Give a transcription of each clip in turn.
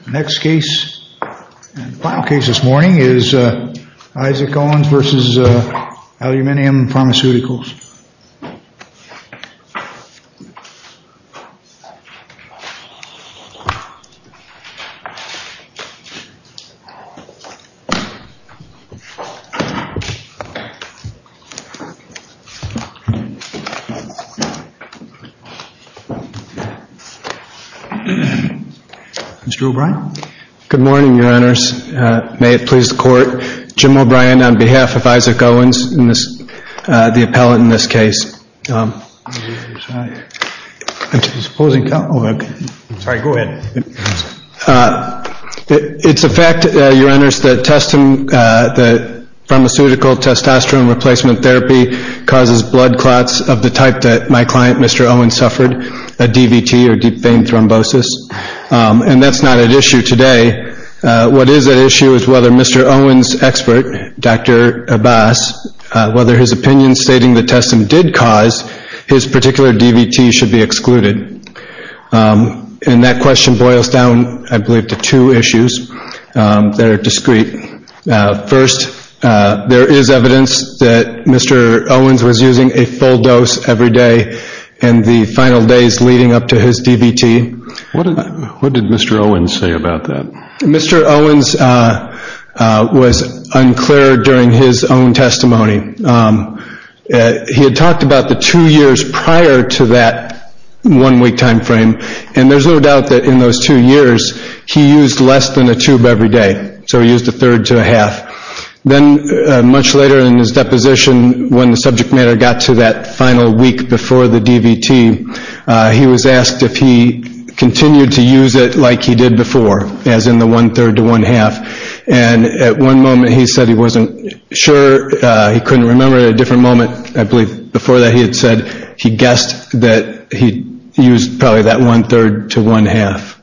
The next case and final case this morning is Isaac Owens v. Aluminium Pharmaceuticals. Mr. O'Brien. Good morning, Your Honors. May it please the Court, Jim O'Brien on behalf of Isaac Owens, the appellant in this case. It's a fact, Your Honors, that pharmaceutical testosterone replacement therapy causes blood clots of the type that my client Mr. Owens suffered, a DVT or deep vein thrombosis. And that's not at issue today. What is at issue is whether Mr. Owens' expert, Dr. Abbas, whether his opinion stating the testim did cause his particular DVT should be excluded. And that question boils down, I believe, to two issues that are discreet. First, there is evidence that Mr. Owens was using a full dose every day in the final days leading up to his DVT. What did Mr. Owens say about that? Mr. Owens was unclear during his own testimony. He had talked about the two years prior to that one a tube every day. So he used a third to a half. Then much later in his deposition when the subject matter got to that final week before the DVT, he was asked if he continued to use it like he did before, as in the one-third to one-half. And at one moment he said he wasn't sure. He couldn't remember at a different moment, I believe. Before that he had said he guessed that he used probably that one-third to one-half.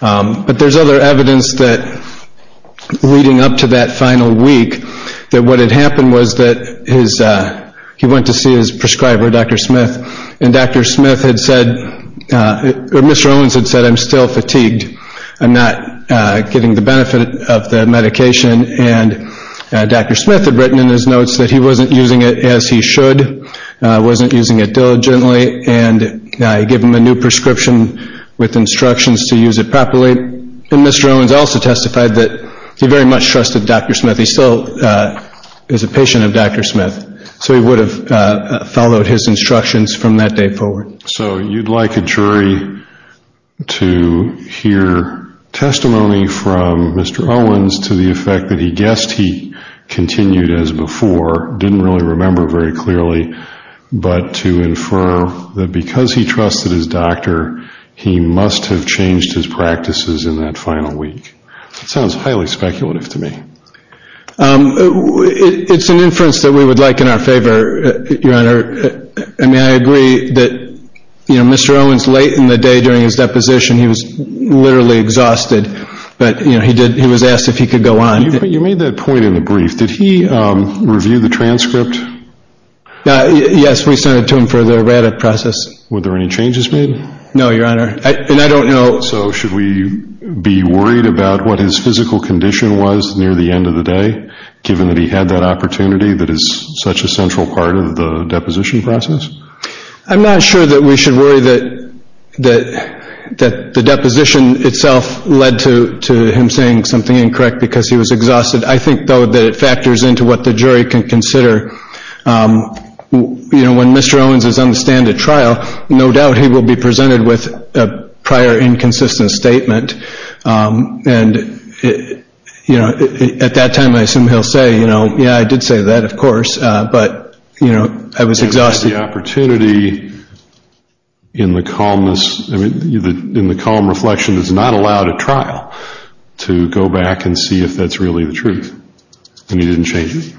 But there is other evidence leading up to that final week that what had happened was that he went to see his prescriber, Dr. Smith, and Dr. Smith had said, or Mr. Owens had said, I'm still fatigued. I'm not getting the benefit of the medication. And Dr. Smith had written in his notes that he wasn't using it as he should, wasn't using it diligently, and I give him a new prescription with instructions to use it properly. And Mr. Owens also testified that he very much trusted Dr. Smith. He still is a patient of Dr. Smith. So he would have followed his instructions from that day forward. So you'd like a jury to hear testimony from Mr. Owens to the effect that he guessed he continued as before, didn't really remember very clearly, but to infer that because he trusted his doctor, he must have changed his practices in that final week. It sounds highly speculative to me. It's an inference that we would like in our favor, Your Honor. I mean, I agree that Mr. Owens late in the day during his deposition, he was literally exhausted, but he was asked if he could go on. You made that point in the brief. Did he review the transcript? Yes, we sent it to him for the RADx process. Were there any changes made? No, Your Honor. And I don't know... So should we be worried about what his physical condition was near the end of the day, given that he had that opportunity that is such a central part of the deposition process? I'm not sure that we should worry that the deposition itself led to him saying something incorrect because he was exhausted. I think, though, that it factors into what the jury can consider. You know, when Mr. Owens is on the stand at trial, no doubt he will be presented with a prior inconsistent statement. And, you know, at that time, I assume he'll say, you know, yeah, I did say that, of course, but, you know, I was exhausted. Given the opportunity in the calmness, I mean, in the calm reflection is not allowed at trial to go back and see if that's really the truth. And he didn't change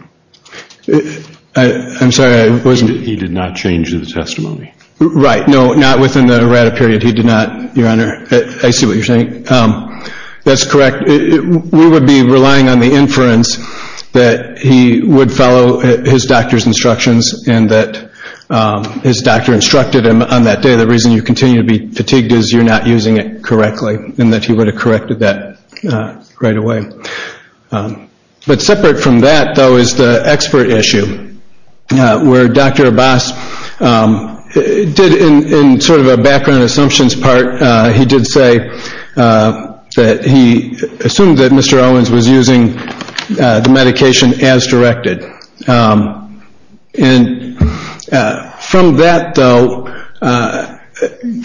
it? I'm sorry, I wasn't... He did not change the testimony? Right. No, not within the RADx period. He did not, Your Honor. I see what you're saying. That's correct. We would be relying on the inference that he would follow his doctor's instructions and that his doctor instructed him on that day. The reason you continue to be fatigued is you're not using it correctly, and that he would have corrected that right away. But separate from that, though, is the expert issue, where Dr. Abbas did, in sort of a background assumptions part, he did say that he assumed that Mr. Owens was using the medication as directed. And from that, though...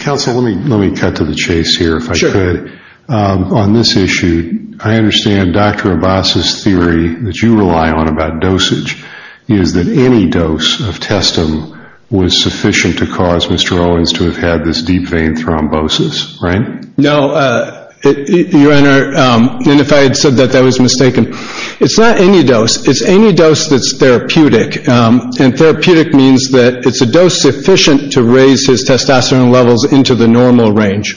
Counsel, let me cut you off. Let me cut to the chase here, if I could. On this issue, I understand Dr. Abbas's theory that you rely on about dosage, is that any dose of testam was sufficient to cause Mr. Owens to have had this deep vein thrombosis, right? No, Your Honor, and if I had said that, that was mistaken. It's not any dose. It's any dose that's therapeutic. And therapeutic means that it's a dose sufficient to raise his testosterone levels into the normal range.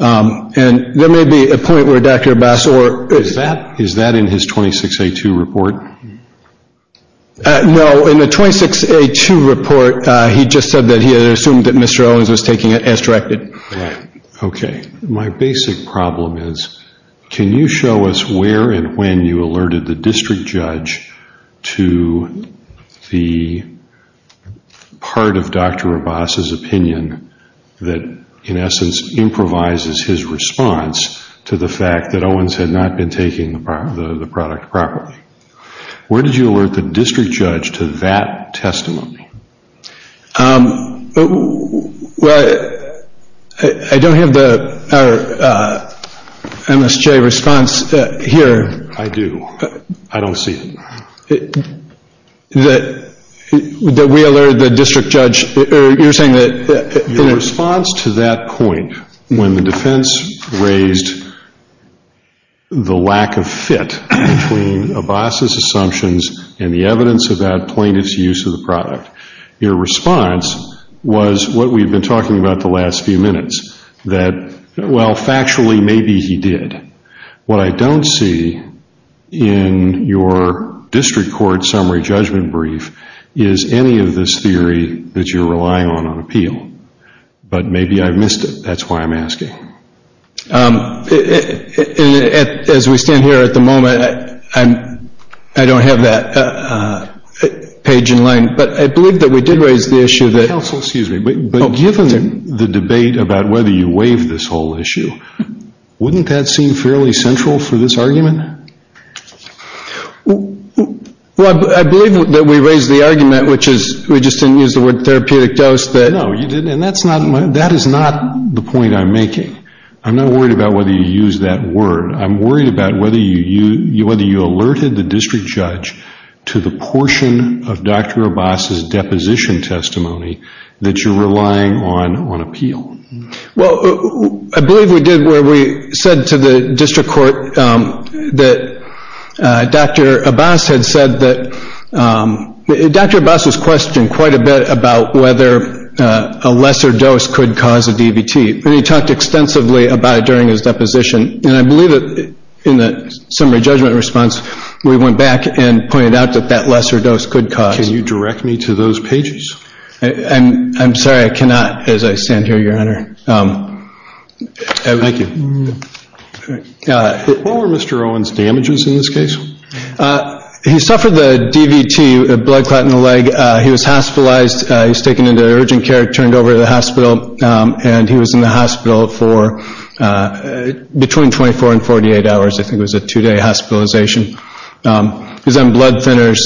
And there may be a point where Dr. Abbas... Is that in his 26A2 report? No, in the 26A2 report, he just said that he had assumed that Mr. Owens was taking it as directed. Okay. My basic problem is, can you show us where and when you alerted the district judge to the part of Dr. Abbas's opinion that in essence improvises his response to the fact that Owens had not been taking the product properly? Where did you alert the district judge to that testimony? Well, I don't have the MSJ response here. I do. I don't see it. That we alerted the district judge... You're saying that... Your response to that point, when the defense raised the lack of fit between Abbas's assumptions and the evidence about plaintiff's use of the product, your response was what we've been talking about the last few minutes. That, well, factually, maybe he did. What I don't see in your district court summary judgment brief is any of this theory that you're relying on on appeal. But maybe I missed it. That's why I'm asking. As we stand here at the moment, I don't have that page in line. But I believe that we did raise the issue that... Counsel, excuse me. But given the debate about whether you waived this whole issue, wouldn't that seem fairly central for this argument? Well, I believe that we raised the argument, which is, we just didn't use the word therapeutic dose, that... I'm not worried about whether you used that word. I'm worried about whether you alerted the district judge to the portion of Dr. Abbas's deposition testimony that you're relying on on appeal. Well, I believe we did where we said to the district court that Dr. Abbas had said that... Dr. Abbas was questioned quite a bit about whether a lesser dose could cause a DVT. And he talked extensively about it during his deposition. And I believe that in the summary judgment response, we went back and pointed out that that lesser dose could cause... Can you direct me to those pages? I'm sorry, I cannot as I stand here, Your Honor. Thank you. What were Mr. Owen's damages in this case? He suffered the DVT, a blood clot in the leg. He was hospitalized. He was taken into urgent care, turned over to the hospital, and he was in the hospital for between 24 and 48 hours. I think it was a two-day hospitalization. He's on blood thinners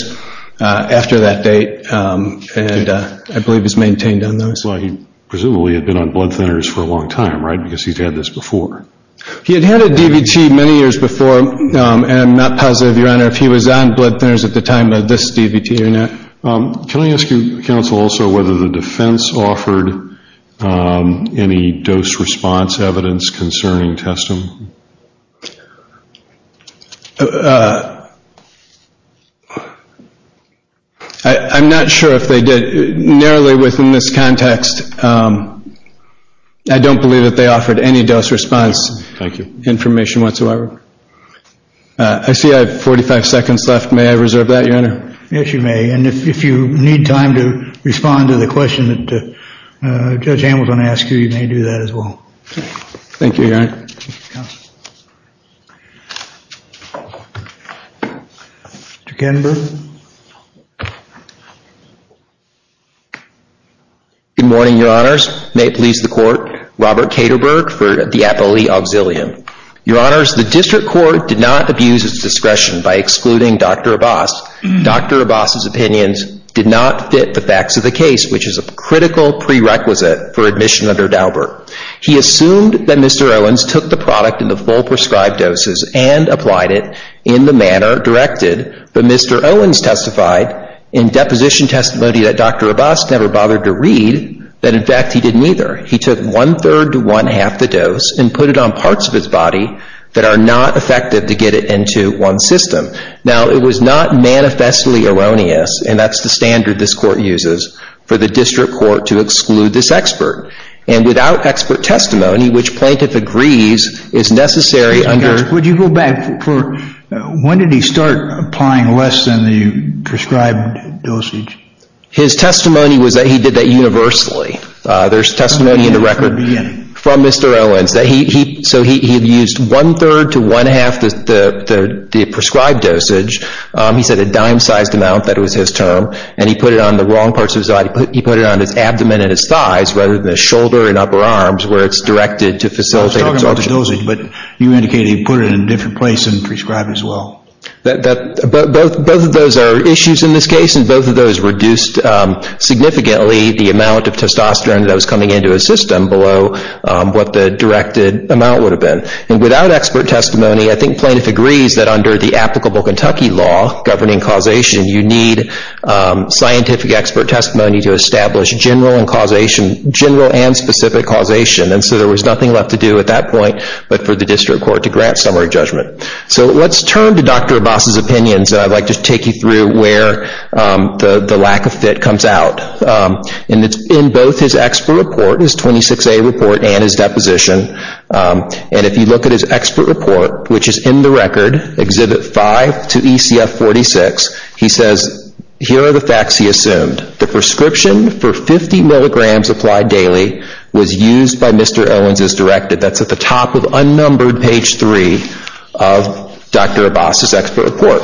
after that date, and I believe he's maintained on those. Well, he presumably had been on blood thinners for a long time, right? Because he's had this before. He had had a DVT many years before, and I'm not positive, Your Honor, if he was on blood thinners at the time of this DVT or not. Can I ask you, Counsel, also, whether the defense offered any dose response evidence concerning testament? I'm not sure if they did. Narrowly within this context, I don't believe that they offered any dose response information whatsoever. I see I have 45 seconds left. May I reserve that, Your Honor? Yes, you may. If you need time to respond to the question that Judge Hamilton asked you, you may do that as well. Thank you, Your Honor. Mr. Kettenberg? Good morning, Your Honors. May it please the Court, Robert Kederberg for the appellee auxilium. Your Honors, the district court did not abuse its discretion by excluding Dr. Abbas. Dr. Abbas's opinions did not fit the facts of the case, which is a critical prerequisite for admission under Daubert. He assumed that Mr. Owens took the product in the full prescribed doses and applied it in the manner directed, but Mr. Owens testified in deposition testimony that Dr. Abbas never bothered to read, that in fact he didn't either. He took one-third to one-half the dose and put it on parts of his body that are not effective to get it into one system. Now, it was not manifestly erroneous, and that's the standard this Court uses for the district court to exclude this expert, and without expert testimony, which plaintiff agrees is necessary under Dr. Abbas. When did he start applying less than the prescribed dosage? His testimony was that he did that universally. There's testimony in the record from Mr. Owens that he, so he used one-third to one-half the prescribed dosage. He said a dime-sized amount, that was his term, and he put it on the wrong parts of his body. He put it on his abdomen and his thighs rather than his shoulder and upper arms where it's directed to facilitate... I was talking about the dosage, but you indicated he put it in a different place than prescribed as well. That, both of those are issues in this case, and both of those reduced significantly the amount of testosterone that was coming into his system below what the directed amount would have been. And without expert testimony, I think plaintiff agrees that under the applicable Kentucky law governing causation, you need scientific expert testimony to establish general and specific causation, and so there was nothing left to do at that point but for the district court to grant summary judgment. So let's turn to Dr. Abbas's opinions, and I'd like to take you through where the lack of fit comes out. In both his expert report, his 26A report and his deposition, and if you look at his expert report, which is in the record, Exhibit 5 to ECF-46, he says, here are the facts he assumed. The prescription for 50 milligrams applied daily was used by Mr. Owens as directed. That's at the top of unnumbered page 3 of Dr. Abbas's expert report.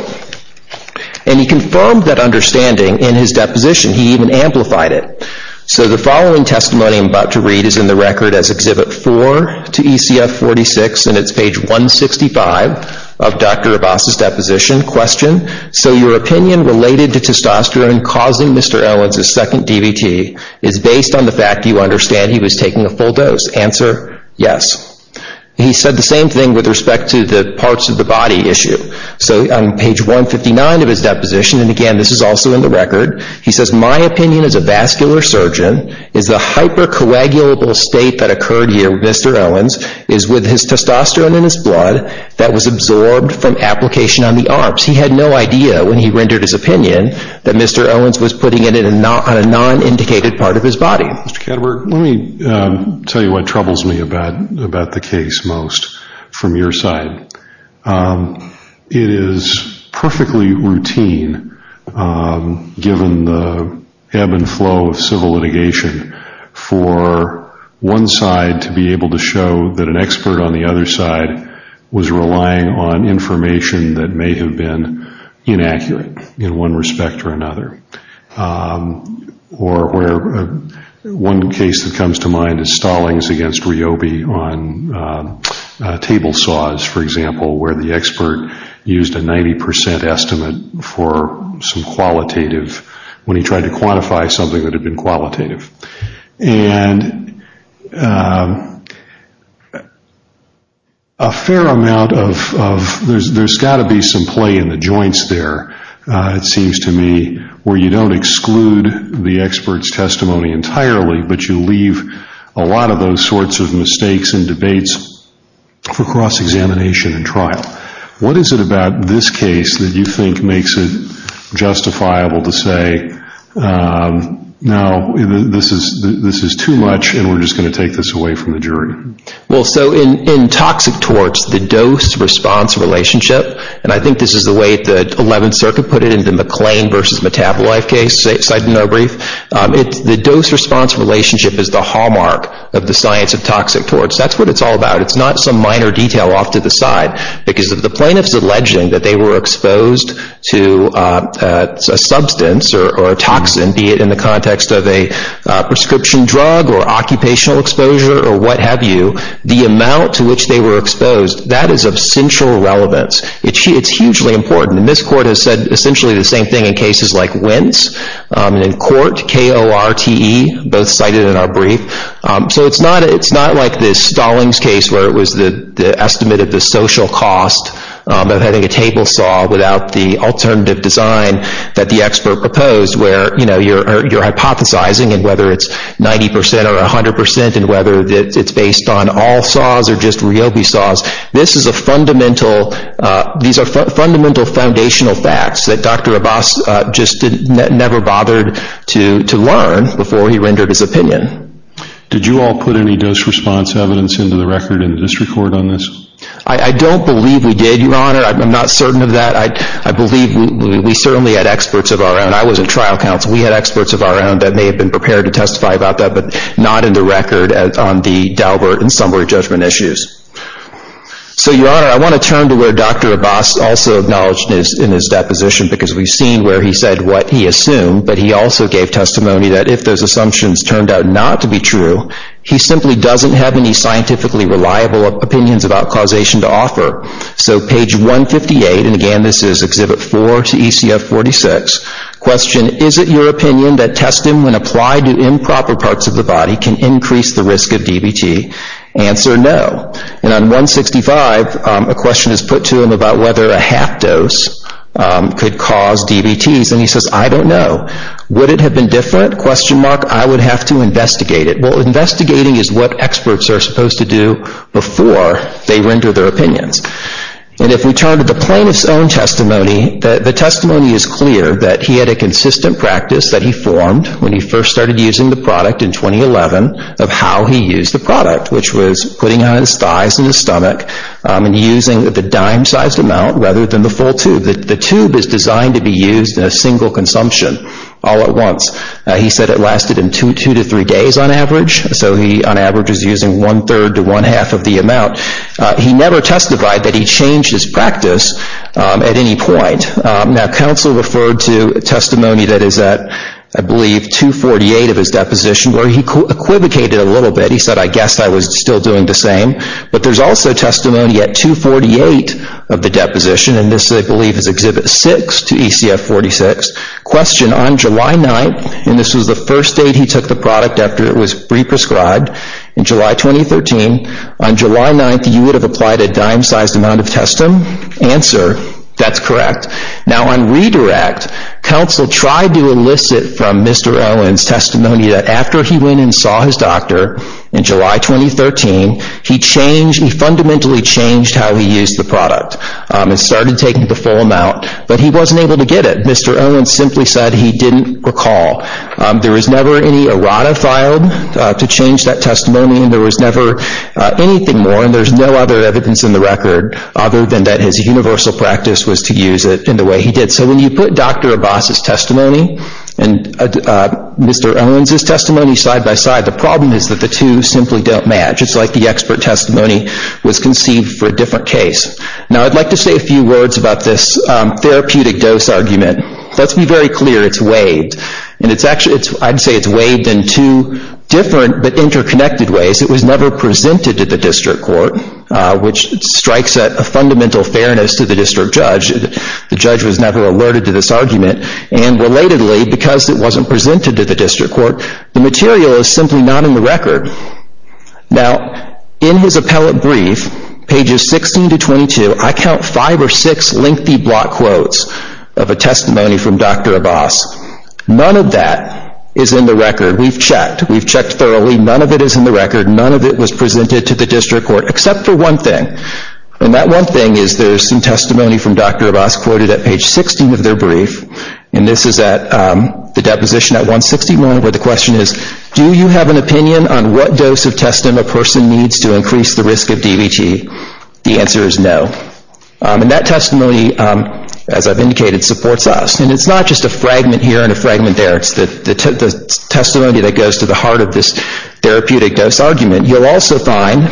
And he confirmed that understanding in his deposition. He even amplified it. So the following testimony I'm about to read is in the record as Exhibit 4 to ECF-46, and it's page 165 of Dr. Abbas's deposition. Question, so your opinion related to testosterone causing Mr. Owens' second DVT is based on the fact you understand he was taking a full dose. Answer, yes. He said the same thing with respect to the page 159 of his deposition, and again, this is also in the record. He says, my opinion as a vascular surgeon is the hypercoagulable state that occurred here with Mr. Owens is with his testosterone in his blood that was absorbed from application on the arms. He had no idea when he rendered his opinion that Mr. Owens was putting it on a non-indicated part of his body. Mr. Katterberg, let me tell you what troubles me about the case most from your side. It is perfectly routine, given the ebb and flow of civil litigation, for one side to be able to show that an expert on the other side was relying on information that may have been inaccurate in one respect or another. One case that comes to mind is Stallings against Ryobi on table saws, for example, where the expert used a 90% estimate for some qualitative, when he tried to quantify something that had been qualitative. There has got to be some play in the joints there, it seems to me, where you don't exclude the expert's testimony entirely, but you leave a lot of those sorts of mistakes and debates for cross-examination and trial. What is it about this case that you think makes it justifiable to say, no, this is too much and we are just going to take this away from the jury? In toxic torts, the dose response relationship, and I think this is the way the 11th Circuit put it in the McLean v. Metabolife case, the dose response relationship is the hallmark of the science of toxic torts. That is what it is all about. It is not some minor detail off to the side, because if the plaintiff is alleging that they were exposed to a substance or a toxin, be it in the context of a prescription drug or occupational exposure or what have you, the amount to which they were exposed, that is of central relevance. It is hugely important, and this Court has said essentially the same thing in cases like Wintz and in court, K-O-R-T-E, both cited in our brief. So it is not like the Stallings case where it was the estimate of the social cost of having a table saw without the alternative design that the expert proposed where you are hypothesizing and whether it is 90% or 100% and whether it is based on all saws or just Ryobi saws. These are fundamental foundational facts that Dr. Abbas never bothered to learn before he rendered his opinion. Did you all put any dose response evidence into the record in the district court on this? I don't believe we did, Your Honor. I am not certain of that. I believe we certainly had experts of our own. I was in trial counsel. We had experts of our own that may have been experts. So Your Honor, I want to turn to where Dr. Abbas also acknowledged in his deposition because we have seen where he said what he assumed, but he also gave testimony that if those assumptions turned out not to be true, he simply doesn't have any scientifically reliable opinions about causation to offer. So page 158, and again this is Exhibit 4 to ECF 46, question, is it your opinion that testing when applied to improper parts of the body can increase the risk of DVT? Answer, no. And on 165, a question is put to him about whether a half dose could cause DVTs, and he says, I don't know. Would it have been different? I would have to investigate it. Well, investigating is what experts are supposed to do before they render their opinions. And if we turn to the plaintiff's own testimony, the testimony is clear that he had a consistent practice that he formed when he first started using the product in 2011 of how he used the product, which was putting it on his thighs and his stomach and using the dime-sized amount rather than the full tube. The tube is designed to be used in a single consumption all at once. He said it lasted in two to three days on average, so he on average was using one-third to one-half of the amount. He never testified that he changed his practice at any point. Now, counsel referred to testimony that is at, I believe, 248 of his deposition where he equivocated a little bit. He said, I guess I was still doing the same. But there's also testimony at 248 of the deposition, and this, I believe, is Exhibit 6 to ECF 46. Question, on July 9th, and this was the first date he took the product after it was pre-prescribed, in July 2013, on July 9th, you would have applied a dime-sized amount of testam? Answer, that's correct. Now, on redirect, counsel tried to elicit from Mr. Owens testimony that after he went and saw his doctor in July 2013, he changed, he fundamentally changed how he used the product and started taking the full amount, but he wasn't able to get it. Mr. Owens simply said he didn't recall. There was never any errata filed to change that testimony, and there was never anything more, and there's no other evidence in the record other than that his universal practice was to use it in the way he did. So when you put Dr. Abbas' testimony and Mr. Owens' testimony side-by-side, the problem is that the two simply don't match. It's like the expert testimony was conceived for a different case. Now, I'd like to say a few words about this therapeutic dose argument. Let's be very clear, it's waived, and I'd say it's waived in two different but interconnected ways. It was a fundamental fairness to the district judge. The judge was never alerted to this argument, and relatedly, because it wasn't presented to the district court, the material is simply not in the record. Now, in his appellate brief, pages 16 to 22, I count five or six lengthy block quotes of a testimony from Dr. Abbas. None of that is in the record. We've checked. We've checked thoroughly. None of it is in the record. None of it was presented to the district court. Now, that one thing is there's some testimony from Dr. Abbas quoted at page 16 of their brief, and this is at the deposition at 161, where the question is, do you have an opinion on what dose of testim a person needs to increase the risk of DVT? The answer is no. And that testimony, as I've indicated, supports us. And it's not just a fragment here and a fragment there. It's the testimony that goes to the heart of this therapeutic dose argument. You'll also find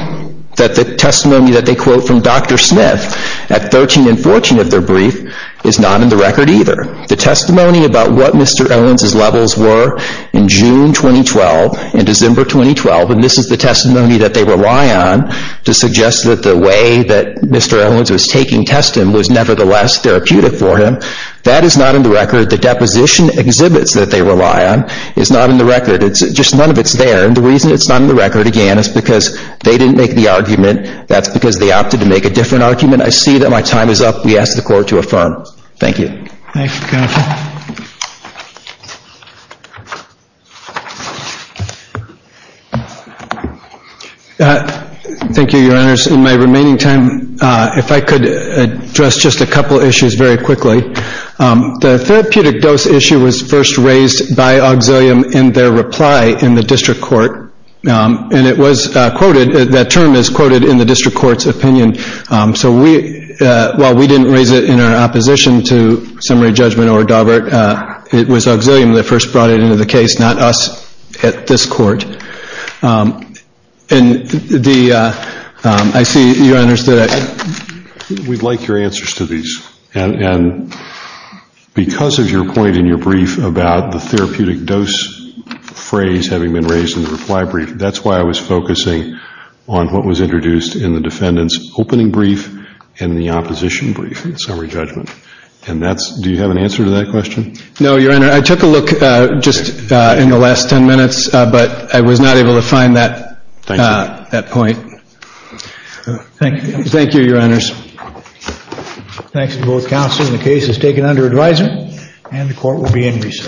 that the testimony that they quote from Dr. Smith at 13 and 14 of their brief is not in the record either. The testimony about what Mr. Owens' levels were in June 2012 and December 2012, and this is the testimony that they rely on to suggest that the way that Mr. Owens was taking testim was nevertheless therapeutic for him, that is not in the record. The deposition exhibits that they rely on is not in the record. It's just none of it's there. And the reason it's not in the record, again, is because they didn't make the argument. That's because they opted to make a different argument. I see that my time is up. We ask the court to affirm. Thank you. Thank you, counsel. Thank you, Your Honors. In my remaining time, if I could address just a couple of issues very quickly. The therapeutic dose issue was first raised by Auxilium in their reply in the district court. And it was quoted, that term is quoted in the district court's opinion. So we, while we didn't raise it in our opposition to summary judgment or Daubert, it was Auxilium that first brought it into the case, not us at this court. And the, I see, Your Honors, that we'd like your answers to these. And because of your point in your brief about the therapeutic dose phrase having been raised in the reply brief, that's why I was focusing on what was introduced in the defendant's opening brief and the opposition brief in summary judgment. And that's, do you have an answer to that question? No, Your Honor. I took a look just in the last 10 minutes, but I was not able to find that point. Thank you. Thank you, Your Honors. Thanks to both counselors. The case is taken under advisory and the court will be in recess.